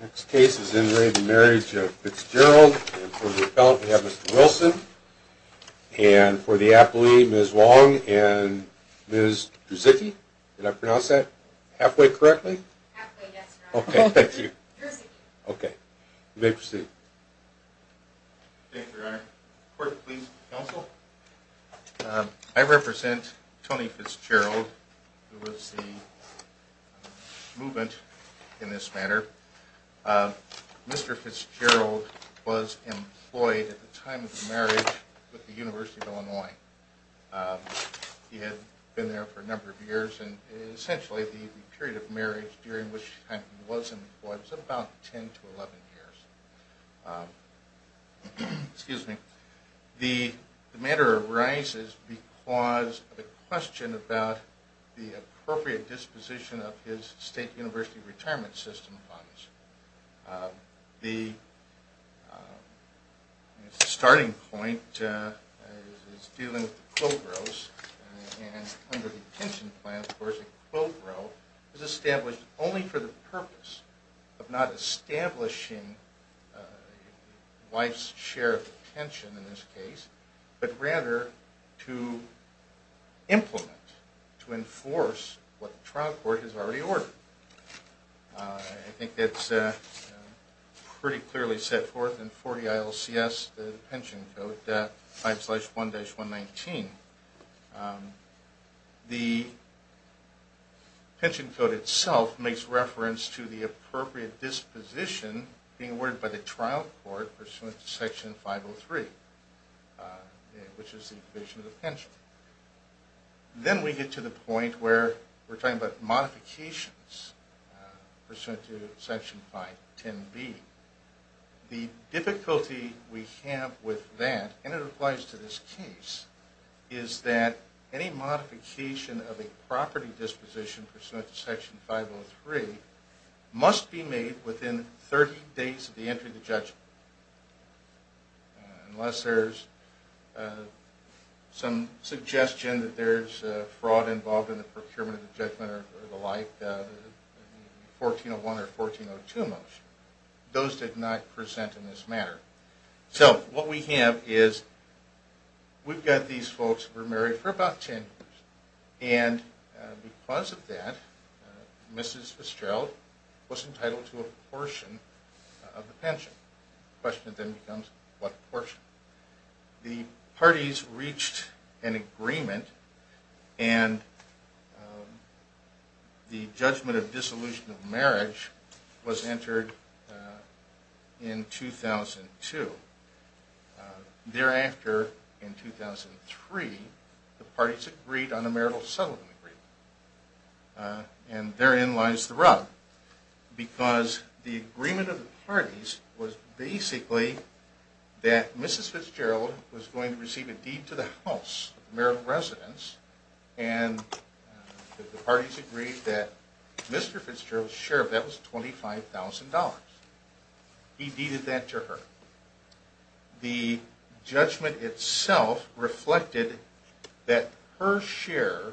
Next case is in re Marriage of Fitzgerald and for the appellant we have Mr. Wilson and for the appellee Ms. Wong and Ms. Druzycki. Did I pronounce that halfway correctly? Halfway, yes, your honor. Okay, thank you. Druzycki. Okay, you may proceed. Thank you, your honor. Court, please counsel. I represent Tony Fitzgerald who was the movement in this matter. Mr. Fitzgerald was employed at the time of the marriage with the University of Illinois. He had been there for a number of years and essentially the period of marriage during which he was employed was about 10 to 11 years. The matter arises because of a question about the appropriate disposition of his state university retirement system funds. The starting point is dealing with the quote rows and under the pension plan, of course, a quote row is established only for the purpose of not establishing wife's share of the pension in this case, but rather to implement, to enforce what the trial court has already ordered. I think that's pretty clearly set forth in 40 ILCS, the pension code, 5-1-119. The pension code itself makes reference to the appropriate disposition being awarded by the trial court pursuant to section 503, which is the provision of the pension. Then we get to the point where we're talking about modifications pursuant to section 510B. The difficulty we have with that, and it applies to this case, is that any modification of a property disposition pursuant to section 503 must be made within 30 days of the entry of the judgment, unless there's some suggestion that there's fraud involved in the procurement of the judgment or the like, 1401 or 1402 most. Those did not present in this matter. So what we have is we've got these folks who were married for about 10 years, and because of that, Mrs. Fitzgerald was entitled to a portion of the pension. The question then becomes, what portion? The parties reached an agreement, and the judgment of dissolution of marriage was entered in 2002. Thereafter, in 2003, the parties agreed on a marital settlement agreement, and therein lies the rub, because the agreement of the parties was basically that Mrs. Fitzgerald was going to receive a deed to the house, marital residence, and the parties agreed that Mr. Fitzgerald's share of that was $25,000. He deeded that to her. The judgment itself reflected that her share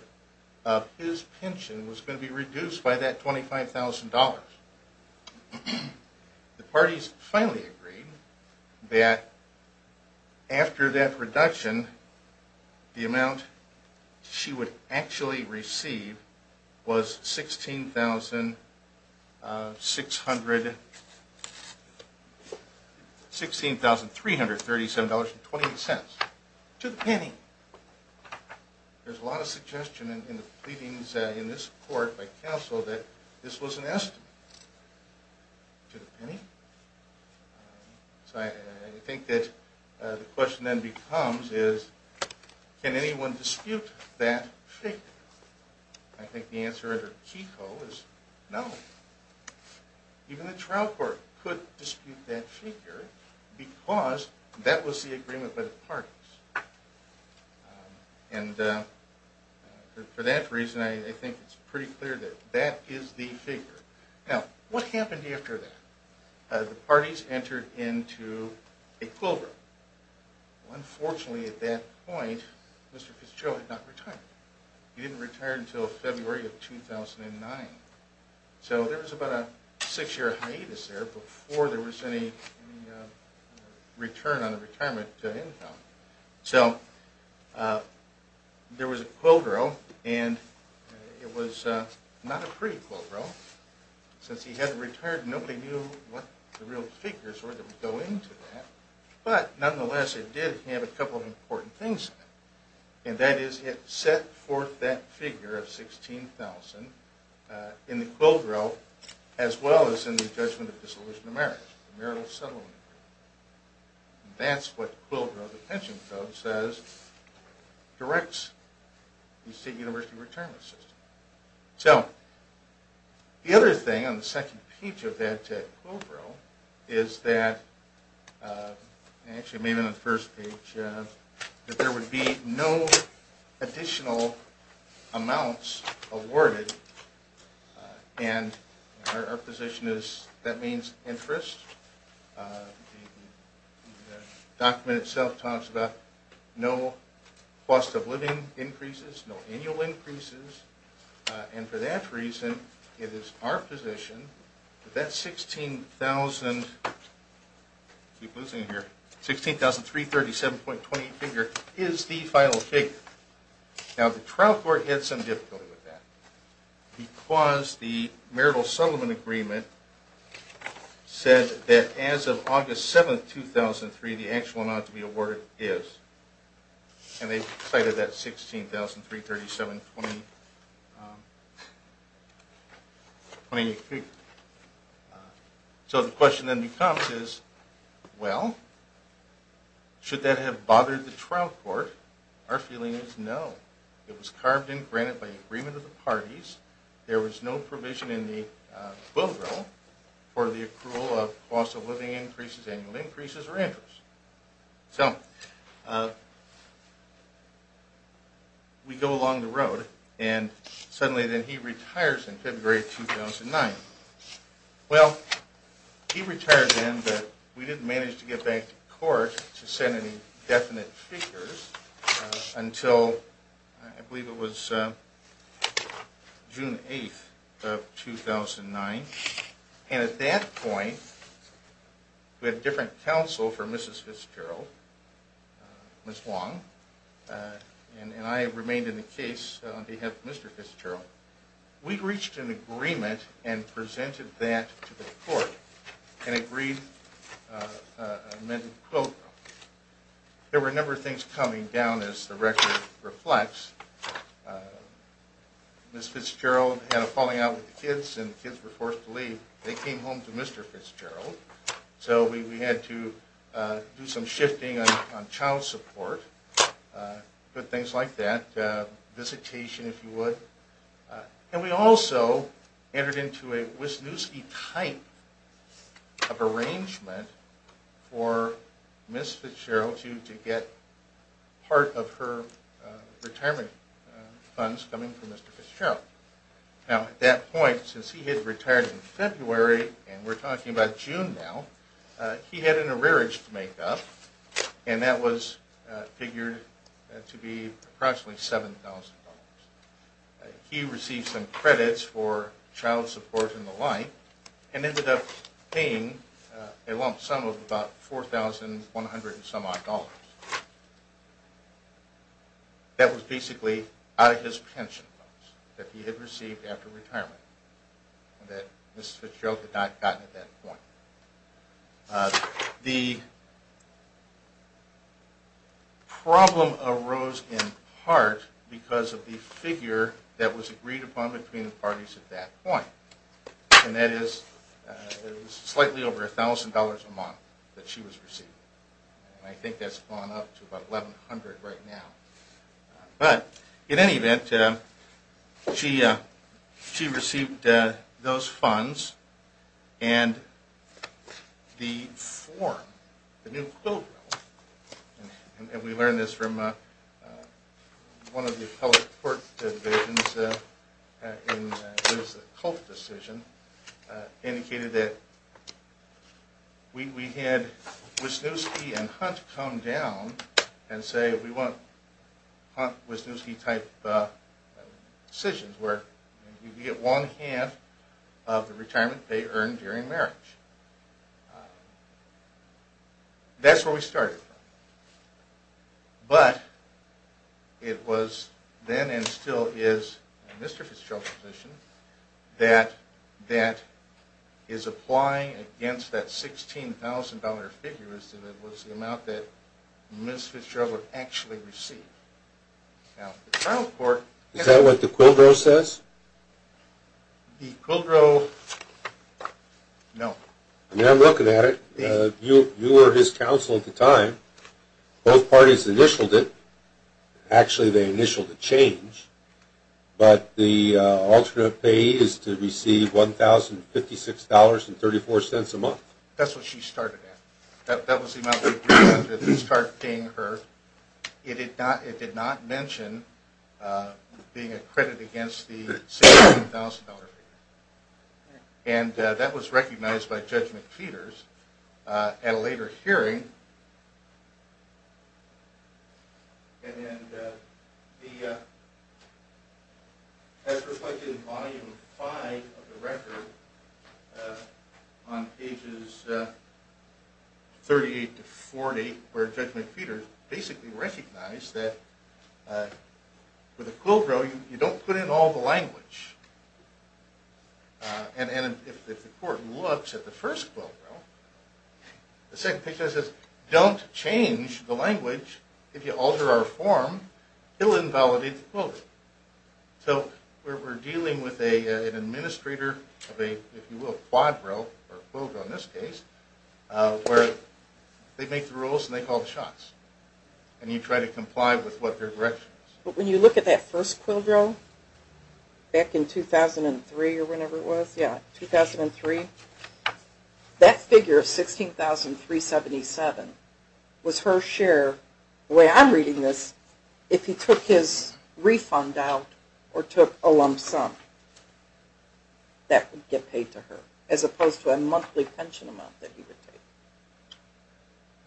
of his pension was going to be reduced by that $25,000. The parties finally agreed that after that reduction, the amount she would actually receive was $16,337.28, to the penny. There's a lot of suggestion in the pleadings in this court by counsel that this was an estimate, to the penny. So I think that the question then becomes is, can anyone dispute that figure? I think the answer under Keiko is no. Even the trial court could dispute that figure, because that was the agreement by the parties. And for that reason, I think it's pretty clear that that is the figure. Now, what happened after that? The parties entered into a quildreau. Unfortunately, at that point, Mr. Fitzgerald had not retired. He didn't retire until February of 2009. So there was about a six-year hiatus there before there was any return on the retirement income. So there was a quildreau, and it was not a pretty quildreau. Since he hadn't retired, nobody knew what the real figures were that would go into that. But nonetheless, it did have a couple of important things in it. And that is, it set forth that figure of $16,000 in the quildreau, as well as in the judgment of dissolution of marriage, marital settlement. That's what quildreau, the pension code says, directs the state university retirement system. So the other thing on the second page of that quildreau is that – I actually made it on the first page – that there would be no additional amounts awarded. And our position is, that means interest. The document itself talks about no cost of living increases, no annual increases. And for that reason, it is our position that that $16,337.20 figure is the final figure. Now, the trial court had some difficulty with that, because the marital settlement agreement said that as of August 7, 2003, the actual amount to be awarded is – and they cited that $16,337.20 figure. So the question then becomes is, well, should that have bothered the trial court? Our feeling is no. It was carved and granted by agreement of the parties. There was no provision in the quildreau for the accrual of cost of living increases, annual increases, or interest. So we go along the road, and suddenly then he retires in February 2009. Well, he retired then, but we didn't manage to get back to court to send any definite figures until I believe it was June 8 of 2009. And at that point, we had a different counsel for Mrs. Fitzgerald, Ms. Wong, and I remained in the case on behalf of Mr. Fitzgerald. We reached an agreement and presented that to the court and agreed – There were a number of things coming down as the record reflects. Mrs. Fitzgerald had a falling out with the kids and the kids were forced to leave. They came home to Mr. Fitzgerald, so we had to do some shifting on child support, good things like that, visitation if you would. And we also entered into a Wisniewski type of arrangement for Ms. Fitzgerald to get part of her retirement funds coming from Mr. Fitzgerald. Now at that point, since he had retired in February and we're talking about June now, he had an arrearage to make up, and that was figured to be approximately $7,000. He received some credits for child support and the like and ended up paying a lump sum of about $4,100 and some odd dollars. That was basically out of his pension that he had received after retirement that Mrs. Fitzgerald had not gotten at that point. The problem arose in part because of the figure that was agreed upon between the parties at that point, and that is slightly over $1,000 a month that she was receiving. I think that's gone up to about $1,100 right now. But in any event, she received those funds and the form, the new bill, and we learned this from one of the public court divisions in Liz's cult decision, indicated that we had Wisniewski and Hunt come down and say, we want Hunt-Wisniewski type decisions where you get one-half of the retirement they earned during marriage. That's where we started from. But it was then and still is Mr. Fitzgerald's position that that is applying against that $16,000 figure, and it was the amount that Mrs. Fitzgerald had actually received. Is that what the Quilgrove says? The Quilgrove, no. I mean, I'm looking at it. You were his counsel at the time. Both parties initialed it. Actually, they initialed a change, but the alternate payee is to receive $1,056.34 a month. That's what she started at. That was the amount that we started paying her. It did not mention being accredited against the $16,000 figure. And that was recognized by Judge McPeters at a later hearing. And as reflected in Volume 5 of the record, on pages 38 to 40, where Judge McPeters basically recognized that with a Quilgrove, you don't put in all the language. And if the court looks at the first Quilgrove, the second page says, don't change the language. If you alter our form, it will invalidate the Quilgrove. So we're dealing with an administrator of a, if you will, quadro, or Quilgrove in this case, where they make the rules and they call the shots. And you try to comply with what their direction is. But when you look at that first Quilgrove, back in 2003 or whenever it was, yeah, 2003, that figure of $16,377 was her share, the way I'm reading this, if he took his refund out or took a lump sum. That would get paid to her, as opposed to a monthly pension amount that he would take.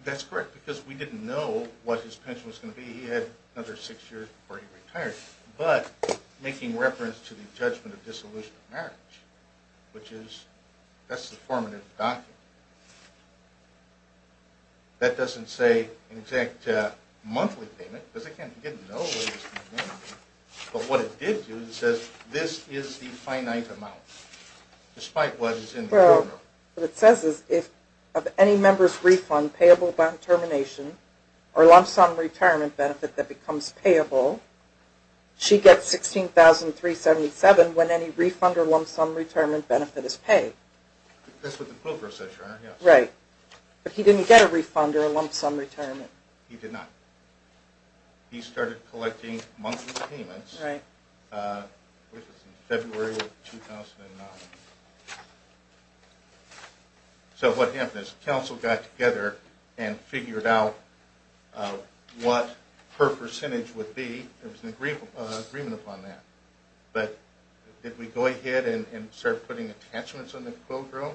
That's correct, because we didn't know what his pension was going to be. He had another six years before he retired. But making reference to the Judgment of Dissolution of Marriage, which is, that's the formative document. That doesn't say an exact monthly payment, because it can't get in no way the same amount. But what it did do is it says, this is the finite amount, despite what is in the Quilgrove. What it says is, of any member's refund, payable by termination, or lump sum retirement benefit that becomes payable, she gets $16,377 when any refund or lump sum retirement benefit is paid. That's what the Quilgrove says, Your Honor. Right. But he didn't get a refund or a lump sum retirement. He did not. He started collecting monthly payments in February of 2009. So what happened is, the council got together and figured out what her percentage would be. There was an agreement upon that. But did we go ahead and start putting attachments on the Quilgrove?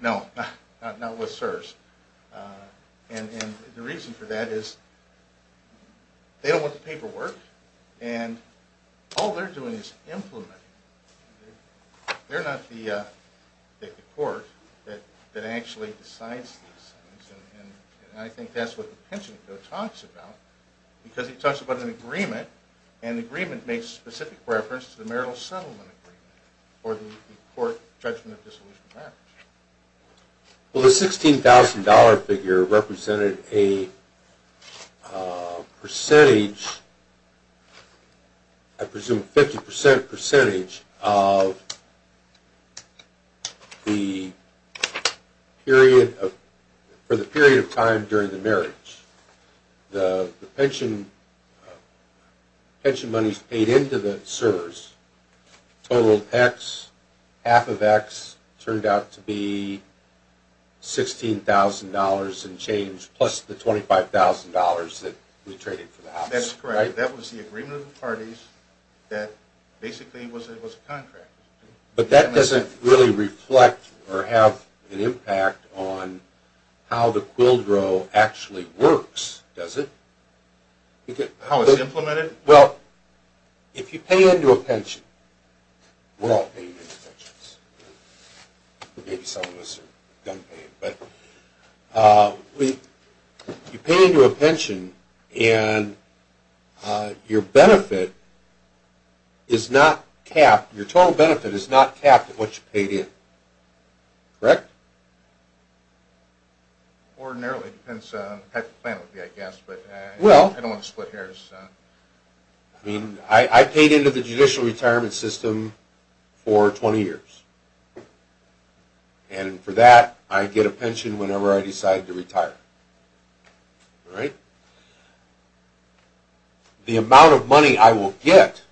No, not with CSRS. And the reason for that is, they don't want the paperwork, and all they're doing is implementing. They're not the court that actually decides these things. And I think that's what the pension code talks about, because it talks about an agreement, and the agreement makes specific reference to the marital settlement agreement, or the court judgment of dissolution of marriage. Well, the $16,000 figure represented a percentage, I presume a 50% percentage, of the period of time during the marriage. The pension monies paid into the CSRS totaled X, half of X, turned out to be $16,000 and change, plus the $25,000 that we traded for the house. That's correct. That was the agreement of the parties that basically was a contract. But that doesn't really reflect or have an impact on how the Quilgrove actually works, does it? How it's implemented? Well, if you pay into a pension, and your benefit is not capped, your total benefit is not capped at what you paid in, correct? Ordinarily, it depends on what the plan would be, I guess, but I don't want to split hairs. I mean, I paid into the judicial retirement system for 20 years, and for that, I get a pension whenever I decide to retire. All right? The amount of money I will get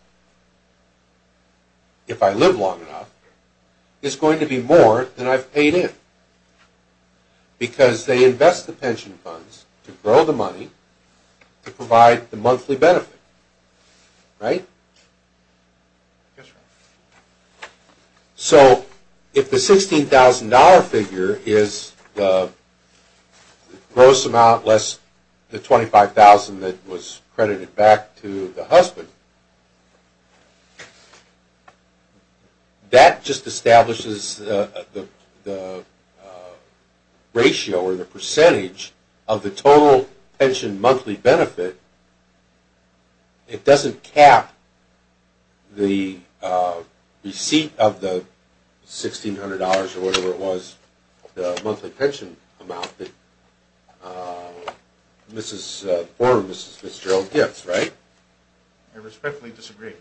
if I live long enough is going to be more than I've paid in, because they invest the pension funds to grow the money to provide the monthly benefit, right? Yes, sir. So, if the $16,000 figure is the gross amount, less the $25,000 that was credited back to the husband, that just establishes the ratio or the percentage of the total pension monthly benefit. It doesn't cap the receipt of the $1,600 or whatever it was, the monthly pension amount that the former Mrs. Fitzgerald gets, right? I respectfully disagree.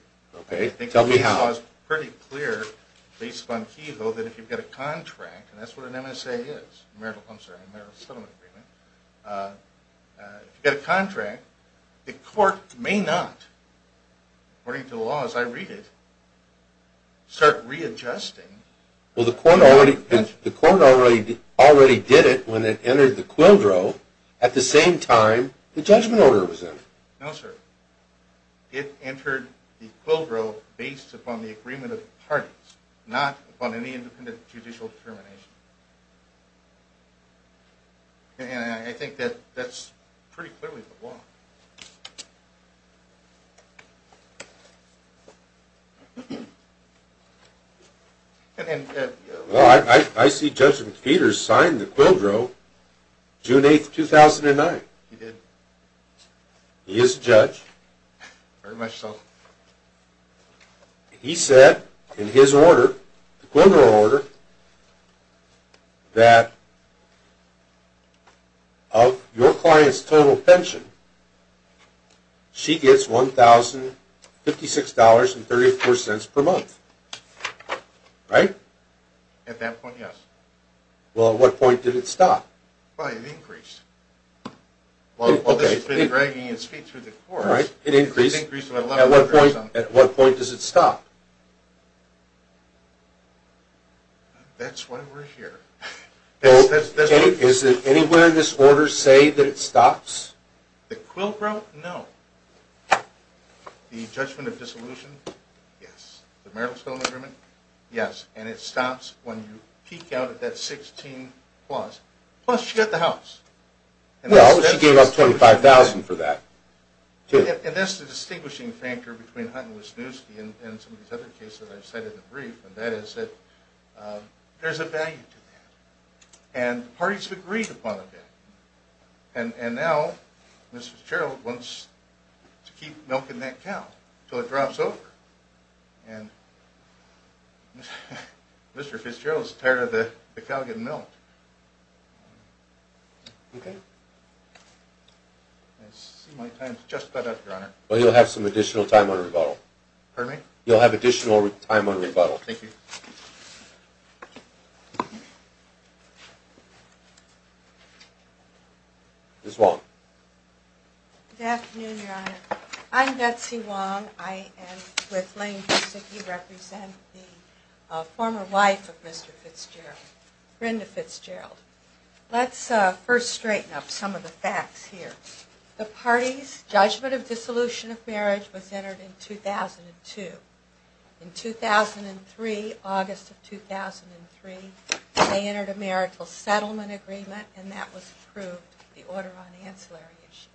Okay, tell me how. I think the law is pretty clear, based upon Keyhoe, that if you get a contract, and that's what an MSA is, a marital, I'm sorry, a marital settlement agreement. If you get a contract, the court may not, according to the law as I read it, start readjusting. Well, the court already did it when it entered the quildro, at the same time the judgment order was in. No, sir. It entered the quildro based upon the agreement of the parties, not upon any independent judicial determination. And I think that that's pretty clearly the law. Well, I see Judge Peters signed the quildro June 8, 2009. He did. He is a judge. Very much so. He said in his order, the quildro order, that of your client's total pension, she gets $1,056.34 per month, right? At that point, yes. Well, at what point did it stop? Well, it increased. While this has been dragging its feet through the courts, it's increased by 11%. At what point does it stop? That's why we're here. Is it anywhere in this order say that it stops? The quildro, no. The judgment of dissolution, yes. The marital settlement agreement, yes. And it stops when you peak out at that 16 plus. Plus, she got the house. Well, she gave up $25,000 for that. And that's the distinguishing factor between Hunt and Wisniewski and some of these other cases I've cited in the brief, and that is that there's a value to that. And the parties agreed upon a value. And now, Mr. Fitzgerald wants to keep milking that cow until it drops over. And Mr. Fitzgerald's tired of the cow getting milked. I see my time's just about up, Your Honor. Well, you'll have some additional time on rebuttal. Pardon me? You'll have additional time on rebuttal. Thank you. Ms. Wong. Good afternoon, Your Honor. I'm Betsy Wong. I am with Lane & Wisniewski, represent the former wife of Mr. Fitzgerald, Brenda Fitzgerald. Let's first straighten up some of the facts here. The parties' judgment of dissolution of marriage was entered in 2002. In 2003, August of 2003, they entered a marital settlement agreement, and that was approved, the Order on Ancillary Issues.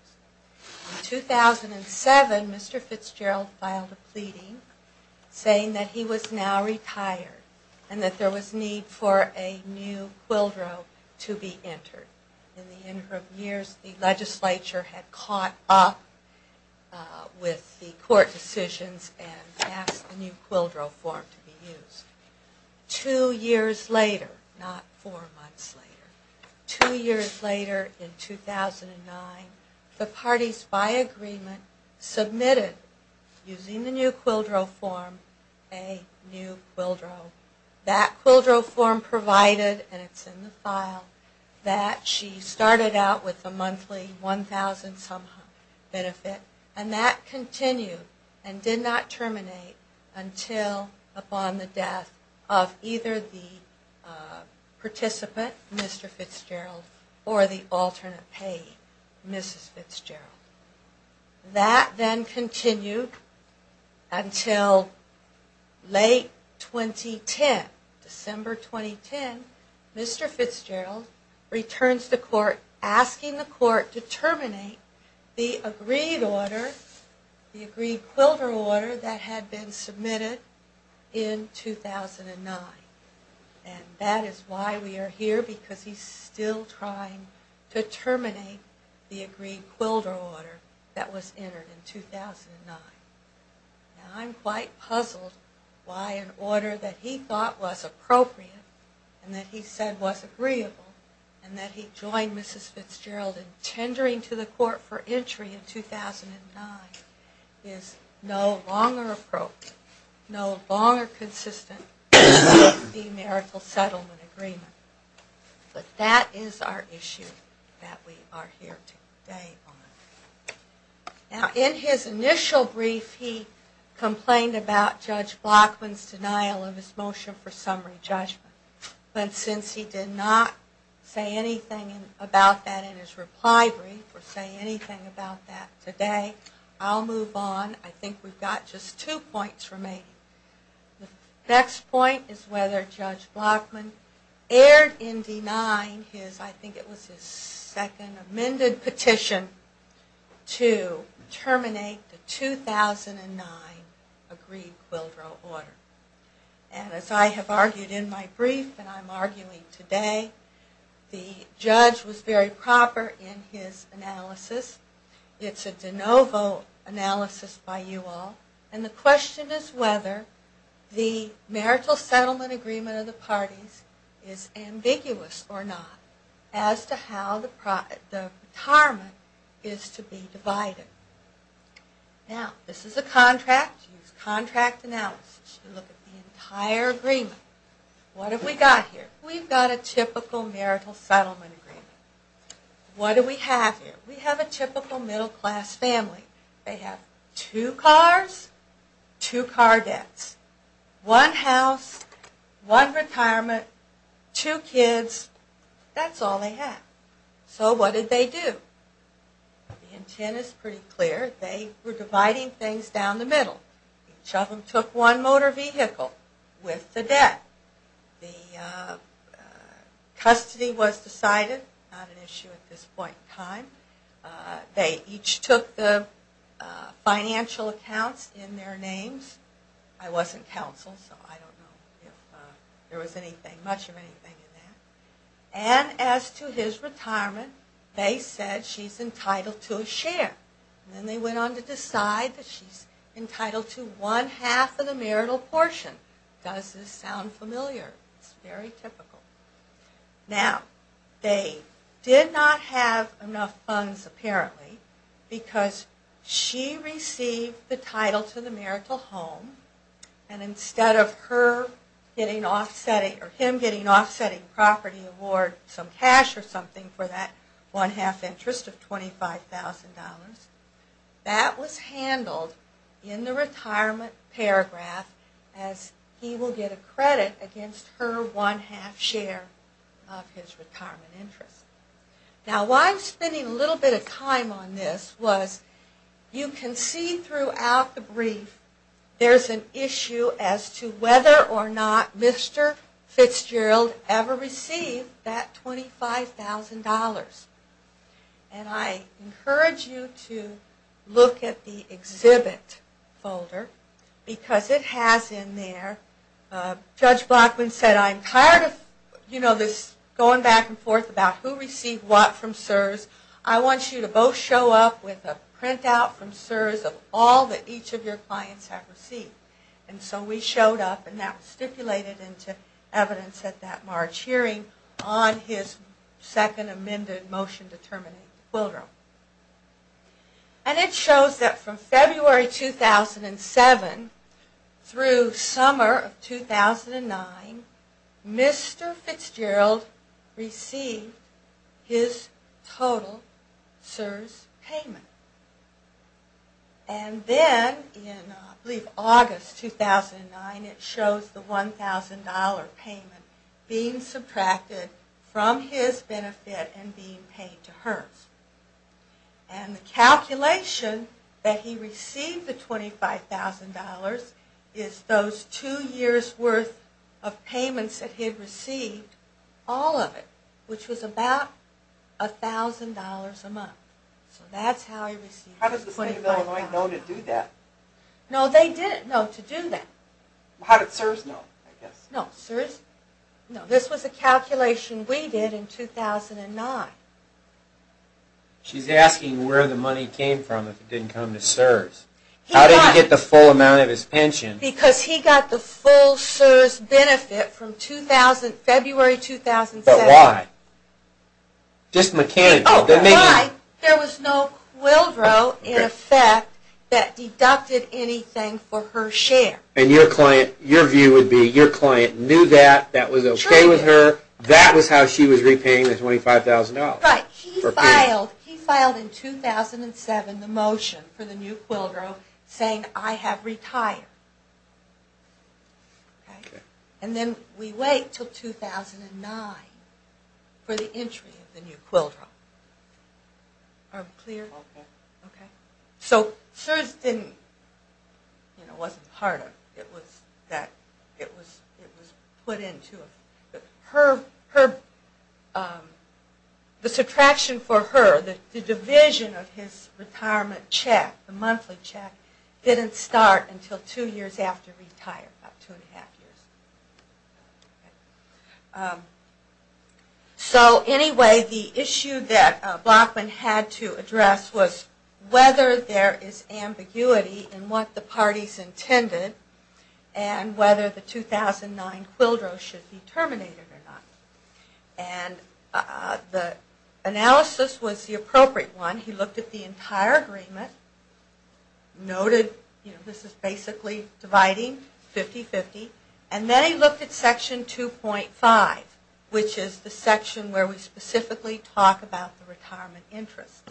In 2007, Mr. Fitzgerald filed a pleading saying that he was now retired and that there was need for a new quildro to be entered. In the interim years, the legislature had caught up with the court decisions and asked a new quildro form to be used. Two years later, not four months later, two years later in 2009, the parties, by agreement, submitted, using the new quildro form, a new quildro. That quildro form provided, and it's in the file, that she started out with a monthly 1,000-some benefit. And that continued and did not terminate until upon the death of either the participant, Mr. Fitzgerald, or the alternate payee, Mrs. Fitzgerald. That then continued until late 2010. December 2010, Mr. Fitzgerald returns to court asking the court to terminate the agreed order, the agreed quildro order that had been submitted in 2009. And that is why we are here, because he's still trying to terminate the agreed quildro order that was entered in 2009. I'm quite puzzled why an order that he thought was appropriate and that he said was agreeable, and that he joined Mrs. Fitzgerald in tendering to the court for entry in 2009, is no longer appropriate, no longer consistent with the Americal Settlement Agreement. But that is our issue that we are here today on. Now, in his initial brief, he complained about Judge Blockman's denial of his motion for summary judgment. But since he did not say anything about that in his reply brief, or say anything about that today, I'll move on. I think we've got just two points remaining. The next point is whether Judge Blockman erred in denying his, I think it was his second amended petition, to terminate the 2009 agreed quildro order. And as I have argued in my brief, and I'm arguing today, the judge was very proper in his analysis. It's a de novo analysis by you all. And the question is whether the Marital Settlement Agreement of the parties is ambiguous or not as to how the retirement is to be divided. Now, this is a contract. Use contract analysis to look at the entire agreement. What have we got here? We've got a typical marital settlement agreement. What do we have here? We have a typical middle class family. They have two cars, two car debts, one house, one retirement, two kids, that's all they have. So what did they do? The intent is pretty clear. They were dividing things down the middle. Each of them took one motor vehicle with the debt. The custody was decided, not an issue at this point in time. They each took the financial accounts in their names. I wasn't counsel, so I don't know if there was much of anything in that. And as to his retirement, they said she's entitled to a share. Then they went on to decide that she's entitled to one half of the marital portion. Does this sound familiar? It's very typical. Now, they did not have enough funds apparently because she received the title to the marital home. And instead of him getting offsetting property award some cash or something for that one half interest of $25,000, that was handled in the retirement paragraph as he will get a credit against her one half share of his retirement interest. Now why I'm spending a little bit of time on this was you can see throughout the brief there's an issue as to whether or not Mr. Fitzgerald ever received that $25,000. And I encourage you to look at the exhibit folder because it has in there, Judge Blackman said I'm tired of this going back and forth about who received what from CSRS. I want you to both show up with a printout from CSRS of all that each of your clients have received. And so we showed up and that was stipulated into evidence at that March hearing on his Second Amended Motion to Terminate Quill Room. And it shows that from February 2007 through summer of 2009 Mr. Fitzgerald received his total CSRS payment. And then in I believe August 2009 it shows the $1,000 payment being subtracted from his benefit and being paid to hers. And the calculation that he received the $25,000 is those two years worth of payments that he had received, all of it, which was about $1,000 a month. So that's how he received his $25,000. How did the state of Illinois know to do that? No, they didn't know to do that. How did CSRS know? No, this was a calculation we did in 2009. She's asking where the money came from if it didn't come to CSRS. How did he get the full amount of his pension? Because he got the full CSRS benefit from February 2007. But why? Just mechanically. There was no quill row in effect that deducted anything for her share. And your view would be your client knew that, that was okay with her, that was how she was repaying the $25,000. Right. He filed in 2007 the motion for the new quill row saying I have retired. And then we wait until 2009 for the entry of the new quill row. Are we clear? So CSRS wasn't part of it. It was put into it. The subtraction for her, the division of his retirement check, the monthly check, didn't start until two years after retirement, about two and a half years. So anyway, the issue that Blockman had to address was whether there is ambiguity in what the parties intended, and whether the 2009 quill row should be terminated or not. And the analysis was the appropriate one. He looked at the entire agreement, noted this is basically dividing 50-50, and then he looked at Section 2.5, which is the section where we specifically talk about the retirement interest.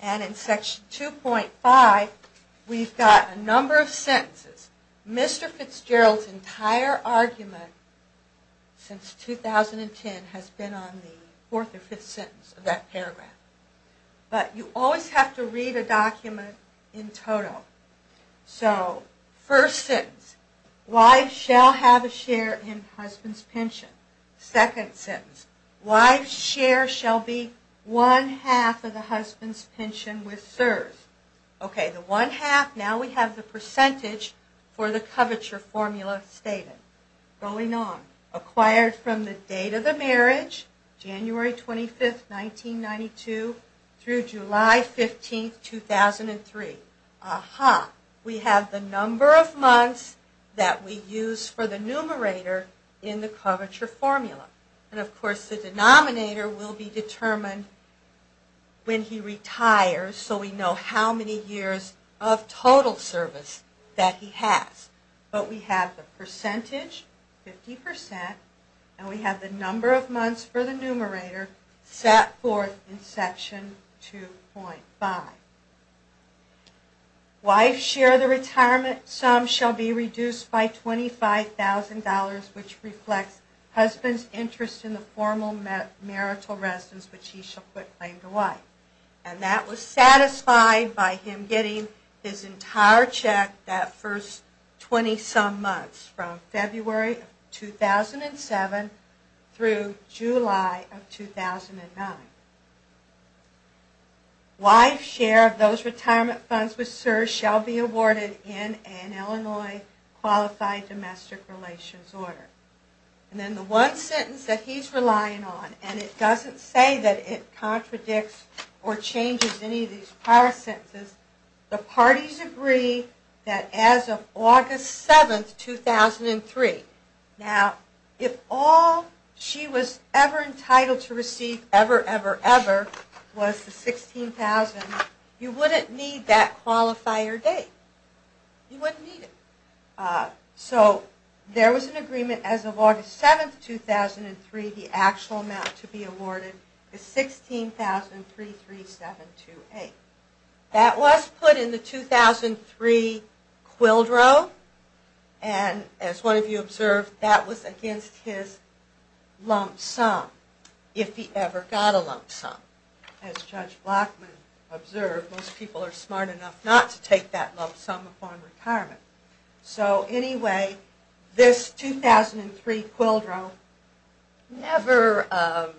And in Section 2.5 we've got a number of sentences. Mr. Fitzgerald's entire argument since 2010 has been on the fourth or fifth sentence of that paragraph. But you always have to read a document in total. So first sentence, wives shall have a share in husband's pension. Second sentence, wives' share shall be one-half of the husband's pension with CSRS. Okay, the one-half, now we have the percentage for the coverture formula stated. Going on, acquired from the date of the marriage, January 25, 1992, through July 15, 2003. We have the number of months that we use for the numerator in the coverture formula. And of course the denominator will be determined when he retires so we know how many years of total service that he has. But we have the percentage, 50%, and we have the number of months for the numerator set forth in Section 2.5. Wives' share of the retirement sum shall be reduced by $25,000, which reflects husband's interest in the formal marital residence, which he shall put plain to wife. And that was satisfied by him getting his entire check that first 20-some months from February of 2007 through July of 2009. Wives' share of those retirement funds with CSRS shall be awarded in an Illinois Qualified Domestic Relations order. And then the one sentence that he's relying on, and it doesn't say that it contradicts or changes any of these prior sentences, the parties agree that as of August 7, 2003. Now if all she was ever entitled to receive ever, ever, ever was the $16,000, you wouldn't need that qualifier date. You wouldn't need it. So there was an agreement as of August 7, 2003, the actual amount to be awarded is $16,33728. That was put in the 2003 QUILDRO, and as one of you observed, that was against his lump sum, if he ever got a lump sum. As Judge Blockman observed, most people are smart enough not to take that lump sum upon retirement. So anyway, this 2003 QUILDRO never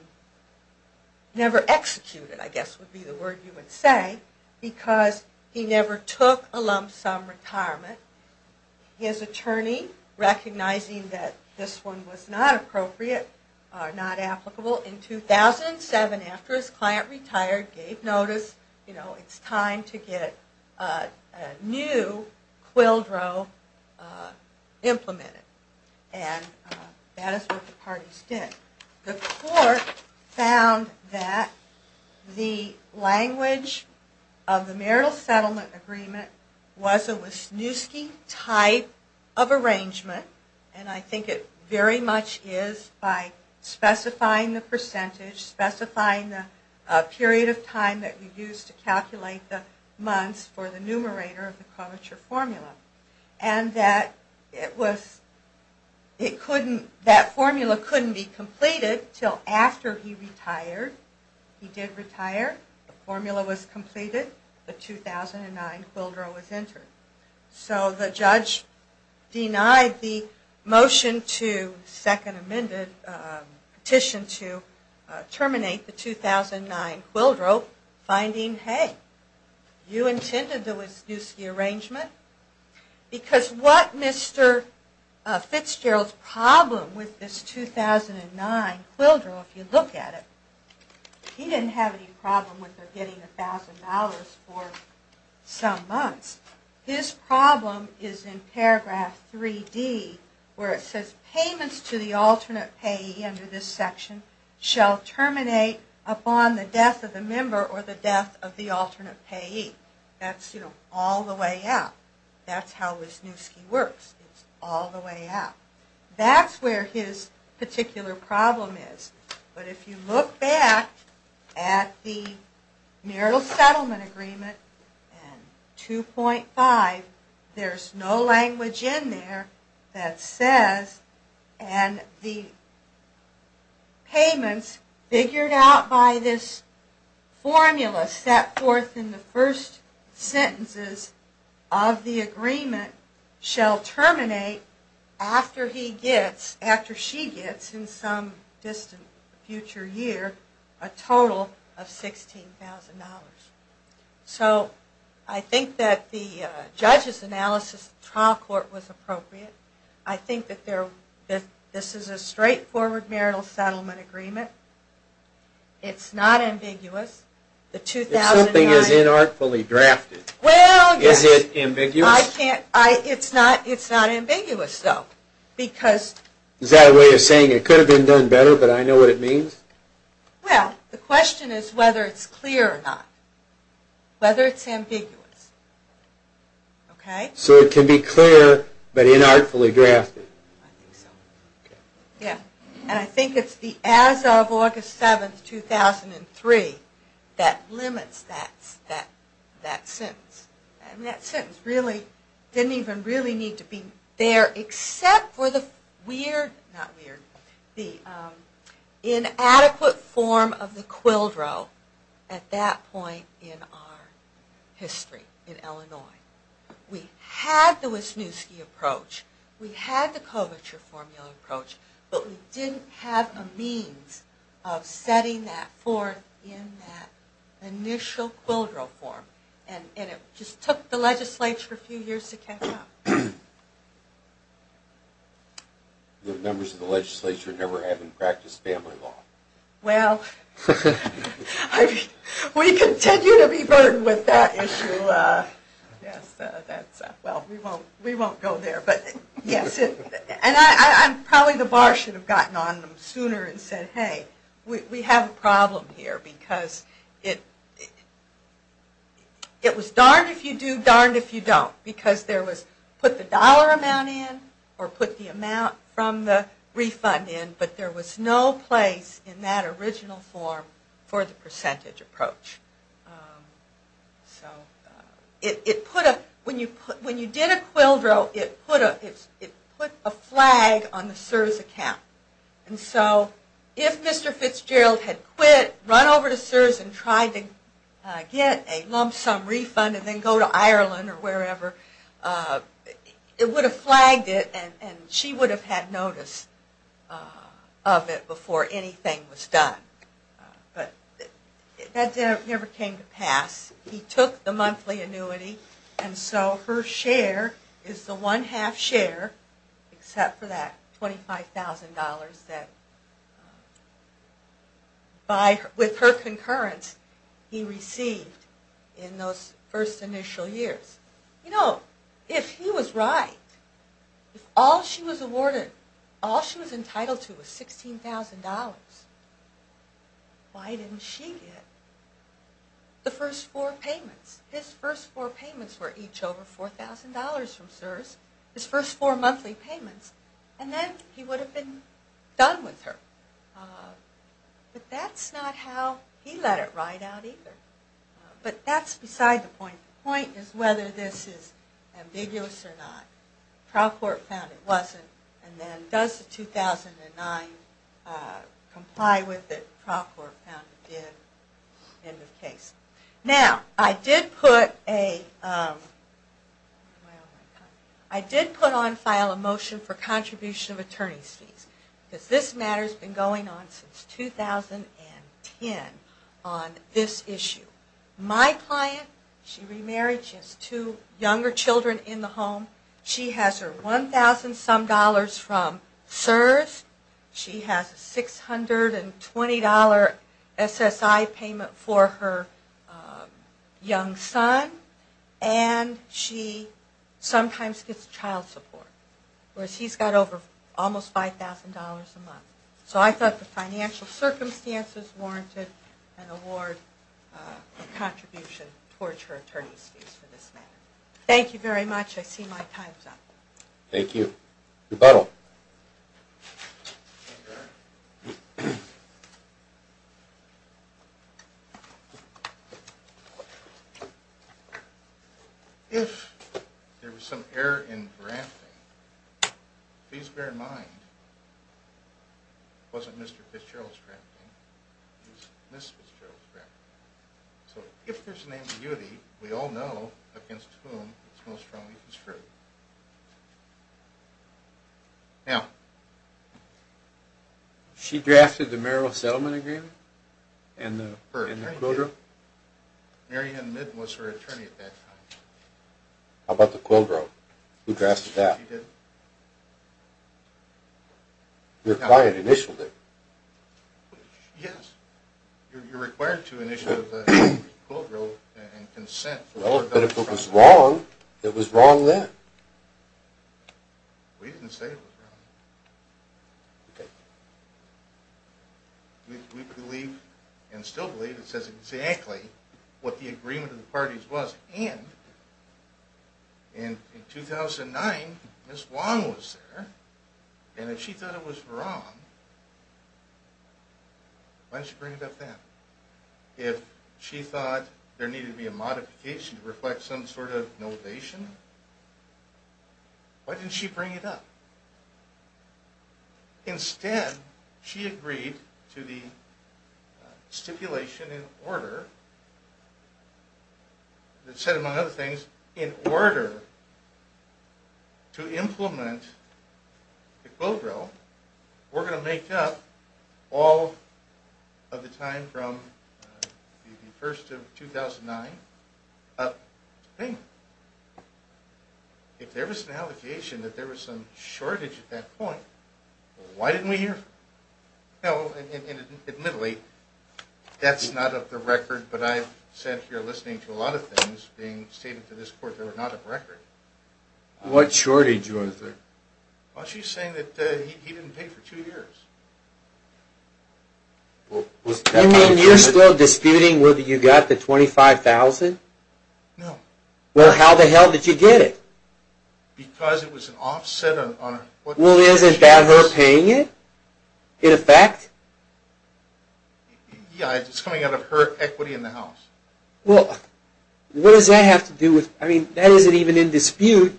executed, I guess would be the word you would say, because he never took a lump sum retirement. His attorney, recognizing that this one was not appropriate, not applicable, in 2007 after his client retired, gave notice, you know, it's time to get a new QUILDRO implemented. And that is what the parties did. The court found that the language of the marital settlement agreement was a Wisniewski type of arrangement, and I think it very much is by specifying the percentage, specifying the period of time that you use to calculate the months for the numerator of the curvature formula. It was not completed until after he retired. He did retire, the formula was completed, the 2009 QUILDRO was entered. So the judge denied the motion to, second amended, petition to terminate the 2009 QUILDRO, finding, hey, you intended the Wisniewski arrangement, because what Mr. Fitzgerald's problem with this 2009 QUILDRO, if you look at it, he didn't have any problem with getting $1,000 for some months. His problem is in paragraph 3D, where it says, payments to the alternate payee under this section shall terminate upon the death of the member or the death of the alternate payee. That's, you know, all the way out. That's how Wisniewski works. It's all the way out. That's where his particular problem is. But if you look back at the marital settlement agreement in 2.5, there's no language in there that says, and the payments figured out by this formula set forth in the first sentences of the agreement, shall terminate after he gets, after she gets, in some distant future year, a total of $16,000. So I think that the judge's analysis of the trial court was appropriate. I think that this is a straightforward marital settlement agreement. It's not ambiguous. If something is inartfully drafted, is it ambiguous? Is that a way of saying it could have been done better, but I know what it means? Well, the question is whether it's clear or not. Whether it's ambiguous. So it can be clear, but inartfully drafted. And I think it's the as of August 7, 2003, that limits that sentence. And that sentence really didn't even really need to be there, except for the weird, not weird, the inadequate form of the quildro at that point in our history in Illinois. We had the Wisniewski approach. We had the Kovacher formula approach. But we didn't have a means of setting that forth in that initial quildro form. And it just took the legislature a few years to catch up. The members of the legislature never having practiced family law. Well, we continue to be burdened with that issue. Well, we won't go there. And probably the bar should have gotten on them sooner and said, hey, we have a problem here. Because it was darned if you do, darned if you don't. Because there was put the dollar amount in, or put the amount from the refund in, but there was no place in that original form for the percentage approach. So when you did a quildro, it put a flag on the CSRS account. And so if Mr. Fitzgerald had quit, run over to CSRS and tried to get a lump sum refund, and then go to Ireland or wherever, it would have flagged it. And she would have had notice of it before anything was done. But that never came to pass. He took the monthly annuity. And so her share is the one half share, except for that $25,000 that with her concurrence he received in those first initial years. You know, if he was right, if all she was awarded, all she was entitled to was $16,000, why didn't she get the first four payments? His first four payments were each over $4,000 from CSRS. His first four monthly payments. And then he would have been done with her. But that's not how he let it ride out either. But that's beside the point. The point is whether this is ambiguous or not. Trial court found it wasn't. And then does the 2009 comply with it? Trial court found it did. End of case. Now, I did put on file a motion for contribution of attorney's fees. Because this matter has been going on since 2010 on this issue. My client, she remarried. She has two younger children in the home. She has her $1,000 some dollars from CSRS. She has a $620 SSI payment for her young son. And she sometimes gets child support. Whereas he's got over almost $5,000 a month. So I thought the financial circumstances warranted an award of contribution towards her attorney's fees for this matter. Thank you very much. I see my time's up. Thank you. Rebuttal. If there was some error in drafting, please bear in mind, it wasn't Mr. Fitzgerald's drafting. It was Ms. Fitzgerald's drafting. So if there's an ambiguity, we all know against whom it's most wrongly construed. Now, she drafted the Merrill Settlement Agreement? And her attorney did? Mary Ann Midden was her attorney at that time. How about the Quilgrove? Who drafted that? She did. You're quiet initially. Yes. You're required to initiate a Quilgrove and consent. Well, but if it was wrong, it was wrong then. We didn't say it was wrong. We believe, and still believe, it says exactly what the agreement of the parties was. And in 2009, Ms. Wong was there, and if she thought it was wrong, why didn't she bring it up then? If she thought there needed to be a modification to reflect some sort of notation, why didn't she bring it up? Instead, she agreed to the stipulation in order that said, among other things, in order to implement the Quilgrove, we're going to make up all of the time from the 1st of 2009. If there was an allegation that there was some shortage at that point, no, and admittedly, that's not of the record, but I've sat here listening to a lot of things being stated to this court that are not of record. What shortage was there? You mean you're still disputing whether you got the $25,000? Well, how the hell did you get it? Well, isn't that her paying it, in effect? Well, what does that have to do with... I mean, that isn't even in dispute,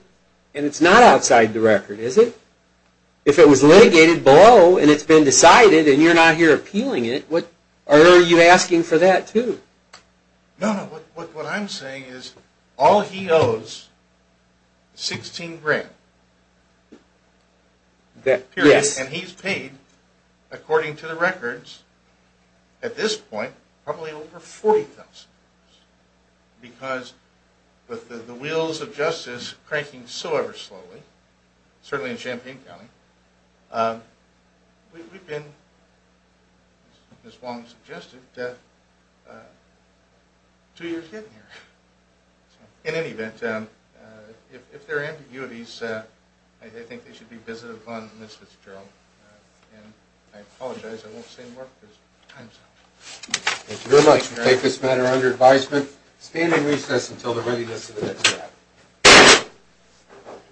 and it's not outside the record, is it? If it was litigated below, and it's been decided, and you're not here appealing it, are you asking for that, too? No, no, what I'm saying is, all he owes is $16,000. And he's paid, according to the records, at this point, probably over $40,000. Because with the wheels of justice cranking so ever slowly, certainly in Champaign County, we've been, as Wong suggested, two years hidden here. In any event, if there are ambiguities, I think they should be visited upon the Misfits' Jail. And I apologize, I won't say more, because time's up.